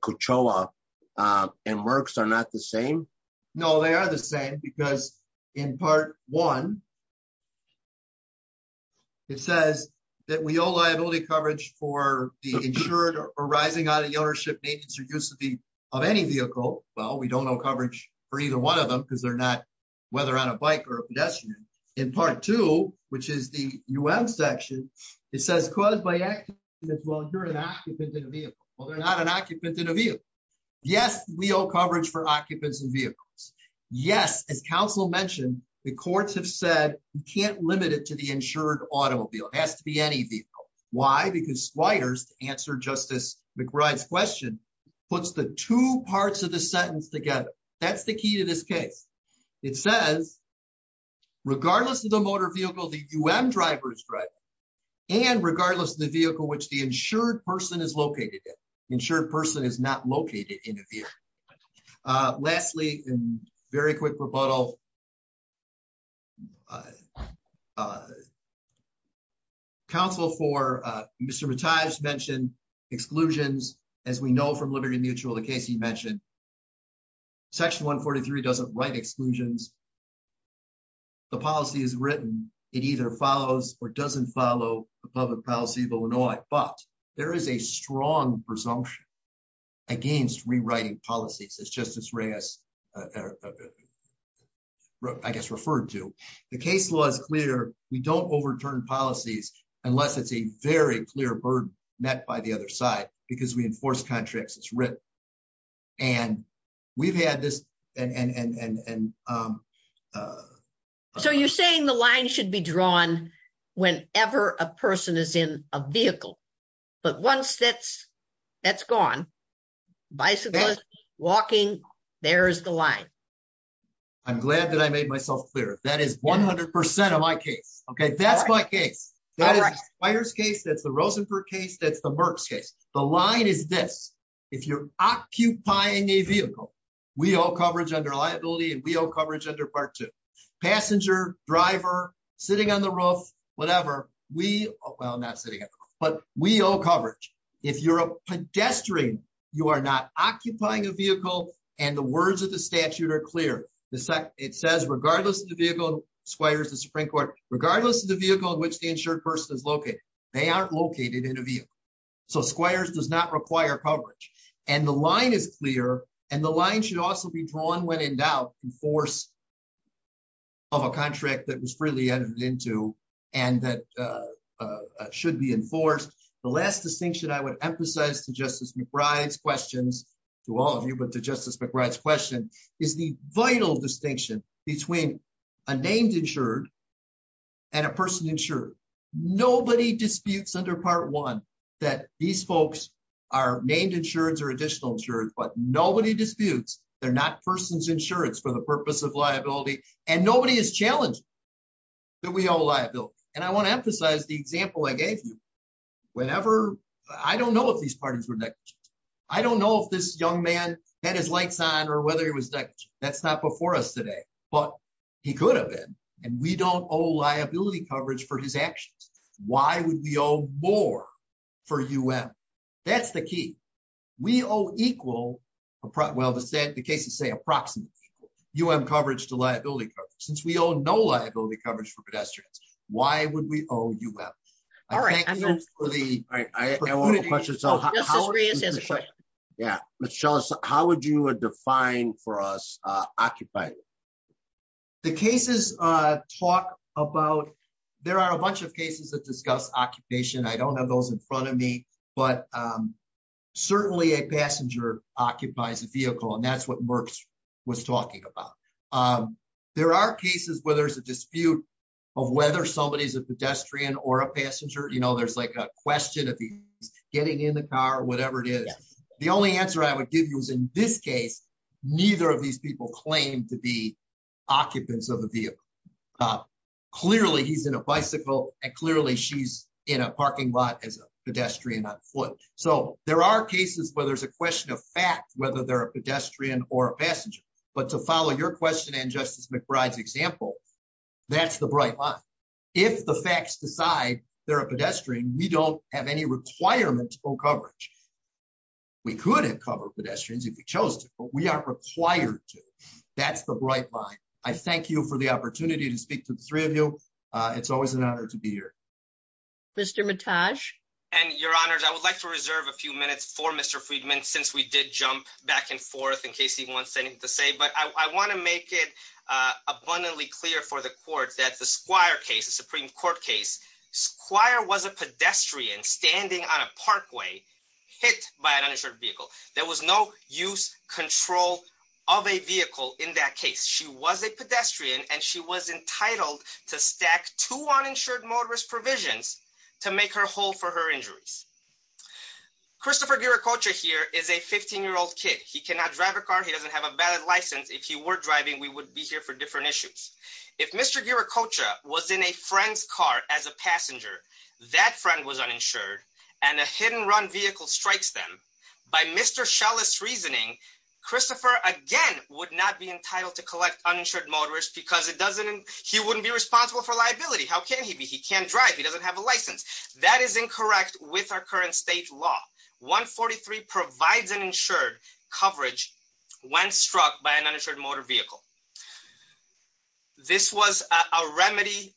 Cochoa and Merckx are not the same? No, they are the same. Because in Part 1, it says that we owe liability coverage for the insured or rising out of the ownership, maintenance, or use of any vehicle. Well, we don't owe coverage for either one of them because they're not, whether on a bike or a pedestrian. In Part 2, which is the U.N. section, it says caused by accidents while you're an occupant in a vehicle. Well, they're not an occupant in a vehicle. Yes, we owe coverage for occupants in vehicles. Yes, as counsel mentioned, the courts have said you can't limit it to the insured automobile. It has to be any vehicle. Why? Because Squires, to answer Justice McBride's question, puts the two parts of the sentence together. That's the key to this case. It says, regardless of the motor vehicle the U.N. driver is driving, and regardless of the vehicle which the insured person is located in. The insured person is not located in a vehicle. Lastly, a very quick rebuttal. Counsel for Mr. Mataj mentioned exclusions. As we know from Liberty Mutual, the case he mentioned, Section 143 doesn't write exclusions. The policy is written. It either follows or doesn't follow the public policy of Illinois. But there is a strong presumption against rewriting policies, as Justice Reyes, I guess, referred to. The case law is clear. We don't overturn policies unless it's a very clear burden met by the other side, because we enforce contracts. It's written. And we've had this. So you're saying the line should be drawn whenever a person is in a vehicle. But once that's gone, bicyclist, walking, there's the line. I'm glad that I made myself clear. That is 100% of my case. Okay, that's my case. That is Squires' case, that's the Rosenberg case, that's the Merck's case. The line is this. If you're occupying a vehicle, we owe coverage under liability, and we owe coverage under Part 2. Passenger, driver, sitting on the roof, whatever. Well, not sitting on the roof, but we owe coverage. If you're a pedestrian, you are not occupying a vehicle, and the words of the statute are clear. It says, regardless of the vehicle, Squires, the Supreme Court, regardless of the vehicle in which the insured person is located, they aren't located in a vehicle. So Squires does not require coverage. And the line is clear, and the line should also be drawn when in doubt in force of a contract that was freely entered into and that should be enforced. The last distinction I would emphasize to Justice McBride's questions, to all of you, but to Justice McBride's question, is the vital distinction between a named insured and a person insured. Nobody disputes under Part 1 that these folks are named insured or additional insured, but nobody disputes they're not persons insured for the purpose of liability, and nobody is challenging that we owe liability. And I want to emphasize the example I gave you. Whenever, I don't know if these parties were negligent. I don't know if this young man had his lights on or whether he was negligent. That's not before us today, but he could have been, and we don't owe liability coverage for his actions. Why would we owe more for UM? That's the key. We owe equal, well the cases say approximately equal, UM coverage to liability coverage. Since we owe no liability coverage for pedestrians, why would we owe UM? Justice Rios has a question. Yeah, how would you define for us occupier? The cases talk about, there are a bunch of cases that discuss occupation. I don't have those in front of me, but certainly a passenger occupies a vehicle, and that's what Merck was talking about. There are cases where there's a dispute of whether somebody is a pedestrian or a passenger. You know, there's like a question of getting in the car or whatever it is. The only answer I would give you is in this case, neither of these people claim to be occupants of the vehicle. Clearly, he's in a bicycle, and clearly she's in a parking lot as a pedestrian on foot. So there are cases where there's a question of fact, whether they're a pedestrian or a passenger. But to follow your question and Justice McBride's example, that's the bright line. If the facts decide they're a pedestrian, we don't have any requirement to owe coverage. We could have covered pedestrians if we chose to, but we aren't required to. That's the bright line. I thank you for the opportunity to speak to the three of you. It's always an honor to be here. Mr. Mitaj? Your Honors, I would like to reserve a few minutes for Mr. Friedman since we did jump back and forth in case he wants anything to say. But I want to make it abundantly clear for the court that the Squire case, the Supreme Court case, Squire was a pedestrian standing on a parkway hit by an uninsured vehicle. There was no use, control of a vehicle in that case. She was a pedestrian and she was entitled to stack two uninsured motorist provisions to make her whole for her injuries. Christopher Ghiracocha here is a 15-year-old kid. He cannot drive a car. He doesn't have a valid license. If he were driving, we would be here for different issues. If Mr. Ghiracocha was in a friend's car as a passenger, that friend was uninsured and a hit-and-run vehicle strikes them, by Mr. Schell's reasoning, Christopher, again, would not be entitled to collect uninsured motorist because he wouldn't be responsible for liability. How can he be? He can't drive. He doesn't have a license. That is incorrect with our current state law. 143 provides an insured coverage when struck by an uninsured motor vehicle. This was a remedy.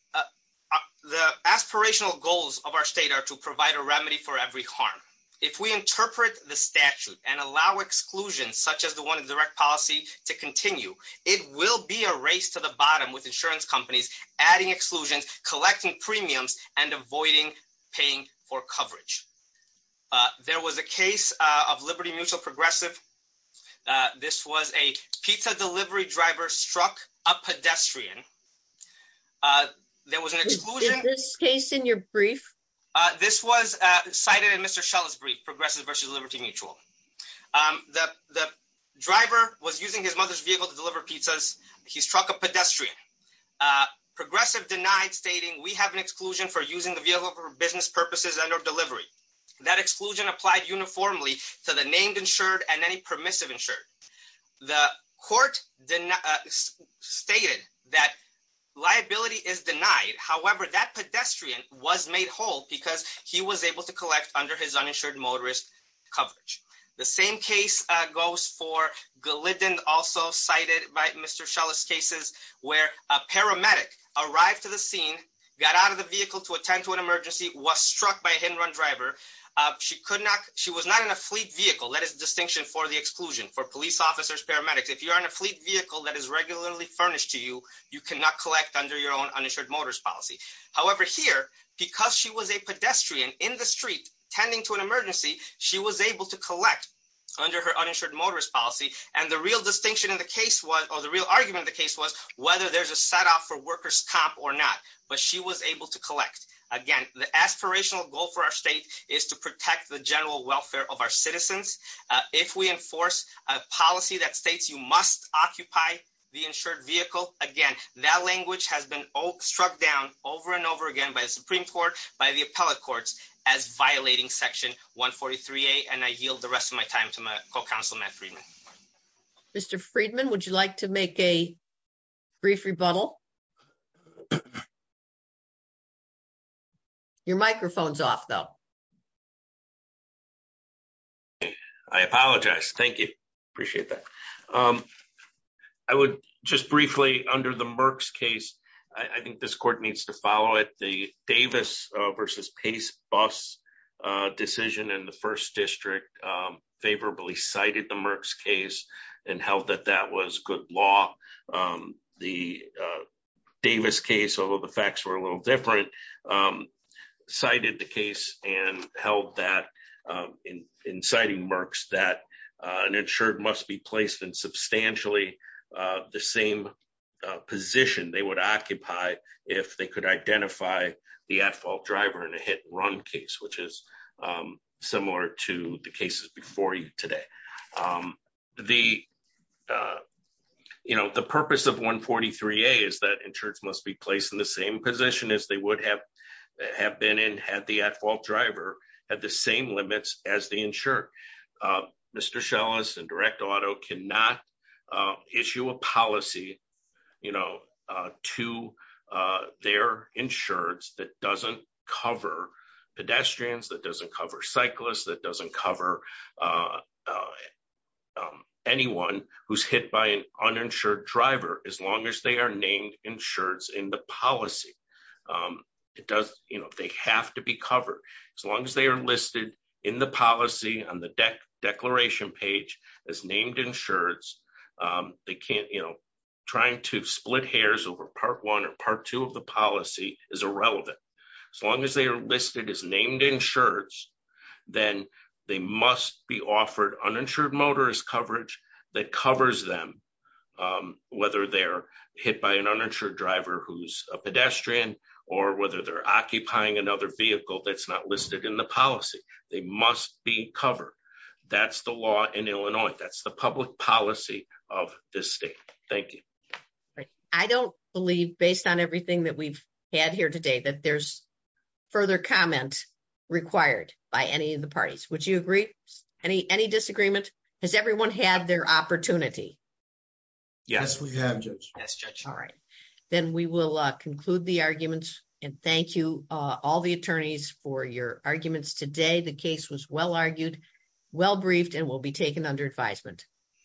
The aspirational goals of our state are to provide a remedy for every harm. If we interpret the statute and allow exclusions such as the one in direct policy to continue, it will be a race to the bottom with insurance companies adding exclusions, collecting premiums, and avoiding paying for coverage. There was a case of Liberty Mutual Progressive. This was a pizza delivery driver struck a pedestrian. There was an exclusion. Is this case in your brief? This was cited in Mr. Schell's brief, Progressive v. Liberty Mutual. The driver was using his mother's vehicle to deliver pizzas. He struck a pedestrian. Progressive denied, stating, we have an exclusion for using the vehicle for business purposes and or delivery. That exclusion applied uniformly to the named insured and any permissive insured. The court stated that liability is denied. However, that pedestrian was made whole because he was able to collect under his uninsured motorist coverage. The same case goes for Glyndon, also cited by Mr. Schell's cases, where a paramedic arrived to the scene, got out of the vehicle to attend to an emergency, was struck by a hit and run driver. She was not in a fleet vehicle. That is the distinction for the exclusion, for police officers, paramedics. If you are in a fleet vehicle that is regularly furnished to you, you cannot collect under your own uninsured motorist policy. However, here, because she was a pedestrian in the street, tending to an emergency, she was able to collect under her uninsured motorist policy. And the real argument of the case was whether there's a set-off for workers' comp or not. But she was able to collect. Again, the aspirational goal for our state is to protect the general welfare of our citizens. If we enforce a policy that states you must occupy the insured vehicle, again, that language has been struck down over and over again by the Supreme Court, by the appellate courts, as violating Section 143A. And I yield the rest of my time to my co-counsel, Matt Friedman. Mr. Friedman, would you like to make a brief rebuttal? Your microphone's off, though. I apologize. Thank you. Appreciate that. I would just briefly, under the Merck's case, I think this court needs to follow it. The Davis v. Pace bus decision in the 1st District favorably cited the Merck's case and held that that was good law. The Davis case, although the facts were a little different, cited the case and held that, in citing Merck's, that an insured must be placed in substantially the same position they would occupy if they could identify the at-fault driver in a hit-and-run case, which is similar to the cases before you today. The purpose of 143A is that insureds must be placed in the same position as they would have been in had the at-fault driver had the same limits as the insured. Mr. Scheles and Direct Auto cannot issue a policy to their insureds that doesn't cover pedestrians, that doesn't cover cyclists, that doesn't cover anyone who's hit by an uninsured driver as long as they are named insureds in the policy. They have to be covered as long as they are listed in the policy on the declaration page as named insureds. Trying to split hairs over Part 1 or Part 2 of the policy is irrelevant. As long as they are listed as named insureds, then they must be offered uninsured motorist coverage that covers them, whether they're hit by an uninsured driver who's a pedestrian or whether they're occupying another vehicle that's not listed in the policy. They must be covered. That's the law in Illinois. That's the public policy of this state. Thank you. I don't believe, based on everything that we've had here today, that there's further comment required by any of the parties. Would you agree? Any disagreement? Does everyone have their opportunity? Yes, we have, Judge. Then we will conclude the arguments. Thank you, all the attorneys, for your arguments today. The case was well-argued, well-briefed, and will be taken under advisement.